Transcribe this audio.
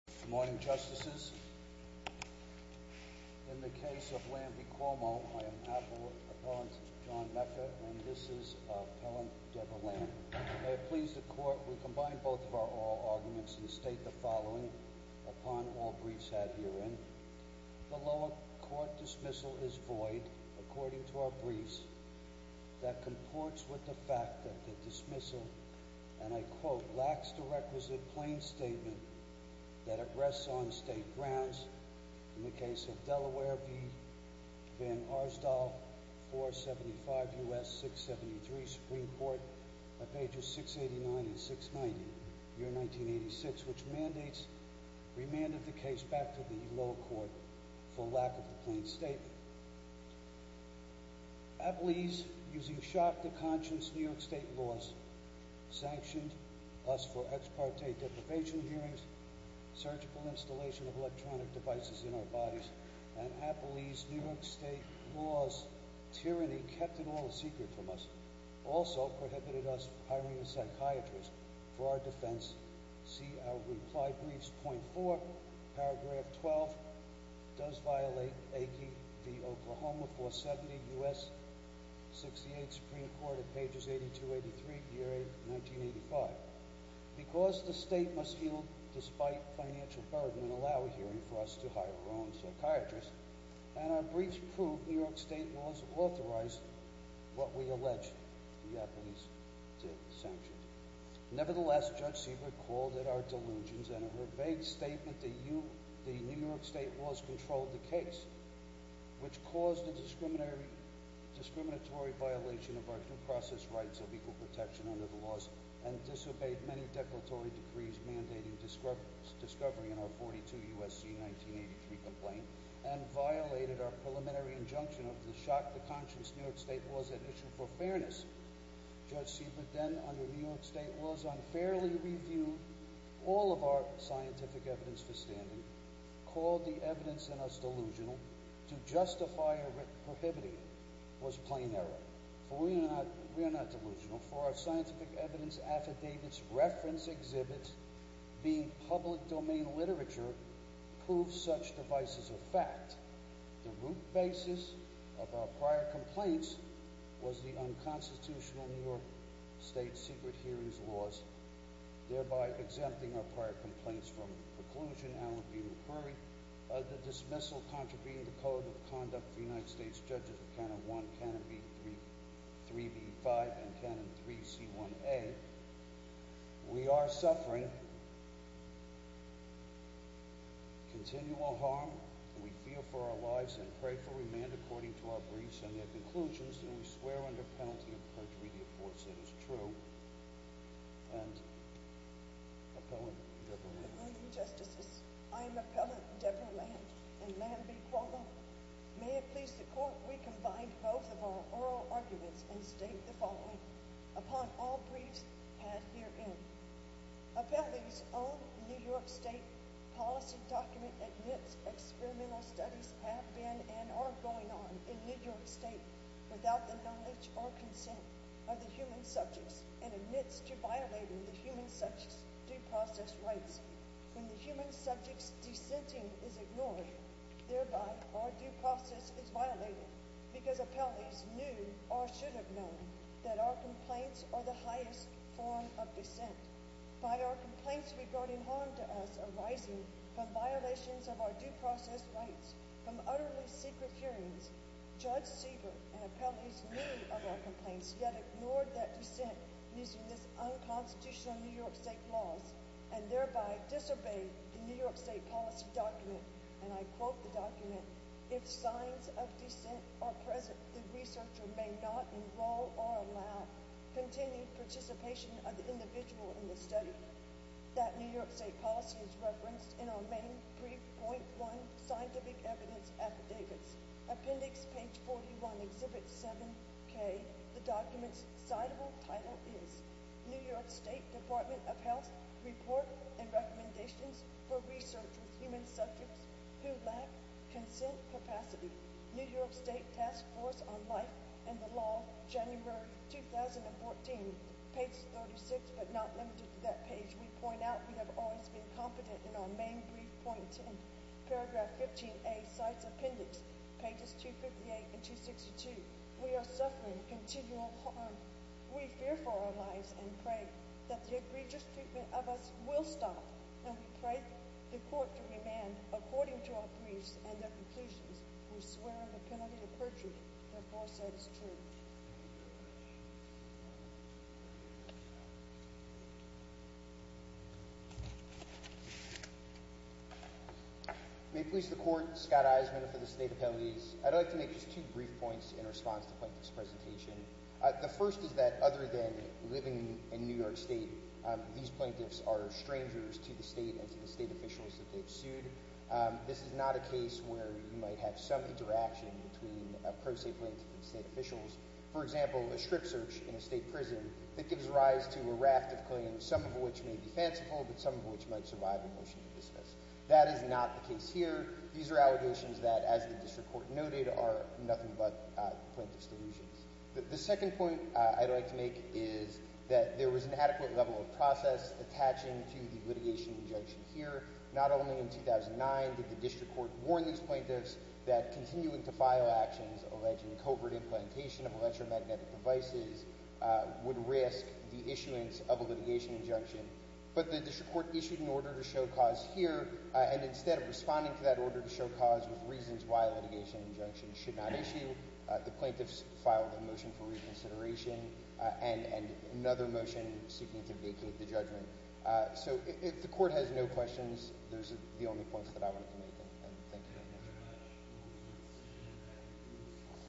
Good morning Justices. In the case of Lamb v. Cuomo, I am Appellant John Mecca and this is Appellant Debra Lamb. May it please the Court, we combine both of our oral arguments and state the following upon all briefs had herein. The lower court dismissal is void according to our briefs. That comports with the fact that the dismissal, and I quote, lacks the requisite plain statement that it rests on state grounds. In the case of Delaware v. Van Arsdal, 475 U.S. 673 Supreme Court, pages 689 and 690, year 1986, which mandates remand of the case back to the lower court for lack of a plain statement. Appellees, using sharp-to-conscience New York State laws, sanctioned us for ex parte deprivation hearings, surgical installation of electronic devices in our bodies, and Appellees' New York State laws' tyranny kept it all a secret from us, also prohibited us hiring a psychiatrist for our defense. See our reply briefs, point 4, paragraph 12, does violate Aki v. Oklahoma, 470 U.S. 68 Supreme Court, pages 8283, year 1985. Because the state must yield despite financial burden and allow a hearing for us to hire our own psychiatrist, and our briefs prove New York State laws authorized what we allege the Appellees did, sanctions. Nevertheless, Judge Siebert called it our delusions, and in her vague statement, the New York State laws controlled the case, which caused a discriminatory violation of our due process rights of equal protection under the laws, and disobeyed many declaratory decrees mandating discovery in our 42 U.S.C. 1983 complaint, and violated our preliminary injunction of the shock-to-conscience New York State laws at issue for fairness. Judge Siebert then, under New York State laws, unfairly reviewed all of our scientific evidence for standing, called the evidence in us delusional, to justify her prohibiting it, was plain error. For we are not delusional, for our scientific evidence affidavits, reference exhibits, being public domain literature, prove such devices a fact. The root basis of our prior complaints was the unconstitutional New York State secret hearings laws, thereby exempting our prior complaints from preclusion, alibi, or query. The dismissal contravened the Code of Conduct of the United States Judges, Canon 1, Canon 3B-5, and Canon 3C-1A. We are suffering continual harm. We fear for our lives and pray for remand according to our briefs and their conclusions, and we swear under penalty of perjury the affords that is true. And, Appellant Deborah Land. Good morning, Justices. I am Appellant Deborah Land, and may I be quorum? May it please the Court we combine both of our oral arguments and state the following. Upon all briefs had herein. Appellee's own New York State policy document admits experimental studies have been and are going on in New York State without the knowledge or consent of the human subjects and admits to violating the human subjects' due process rights. When the human subject's dissenting is ignored, thereby our due process is violated because appellees knew or should have known that our complaints are the highest form of dissent. By our complaints regarding harm to us arising from violations of our due process rights, from utterly secret hearings, Judge Siever and appellees knew of our complaints, yet ignored that dissent using this unconstitutional New York State laws, and thereby disobeyed the New York State policy document. And I quote the document. If signs of dissent are present, the researcher may not enroll or allow continued participation of the individual in the study. That New York State policy is referenced in our main brief .1 scientific evidence affidavits. Appendix page 41, exhibit 7K. The document's citable title is New York State Department of Health Report and Recommendations for Research with Human Subjects Who Lack Consent Capacity. New York State Task Force on Life and the Law, January 2014. Page 36, but not limited to that page, we point out we have always been competent in our main brief .10. Paragraph 15A, CITES Appendix, pages 258 and 262. We are suffering continual harm. We fear for our lives and pray that the egregious treatment of us will stop, and we pray the court to demand, according to our briefs and their completions, we swear the penalty of perjury therefore said is true. May it please the court, Scott Eisenman for the state of penalties. I'd like to make just two brief points in response to Quentin's presentation. The first is that other than living in New York State, these plaintiffs are strangers to the state and to the state officials that they've sued. This is not a case where you might have some interaction between a pro se plaintiff and state officials. For example, a strip search in a state prison that gives rise to a raft of claims, some of which may be fanciful, but some of which might survive a motion to dismiss. That is not the case here. These are allegations that, as the district court noted, are nothing but plaintiff's delusions. The second point I'd like to make is that there was an adequate level of process attaching to the litigation injunction here. Not only in 2009 did the district court warn these plaintiffs that continuing to file actions alleging covert implementation of electromagnetic devices would risk the issuance of a litigation injunction, but the district court issued an order to show cause here, and instead of responding to that order to show cause with reasons why a litigation injunction should not issue, the plaintiffs filed a motion for reconsideration and another motion seeking to vacate the judgment. So if the court has no questions, those are the only points that I want to make. Thank you.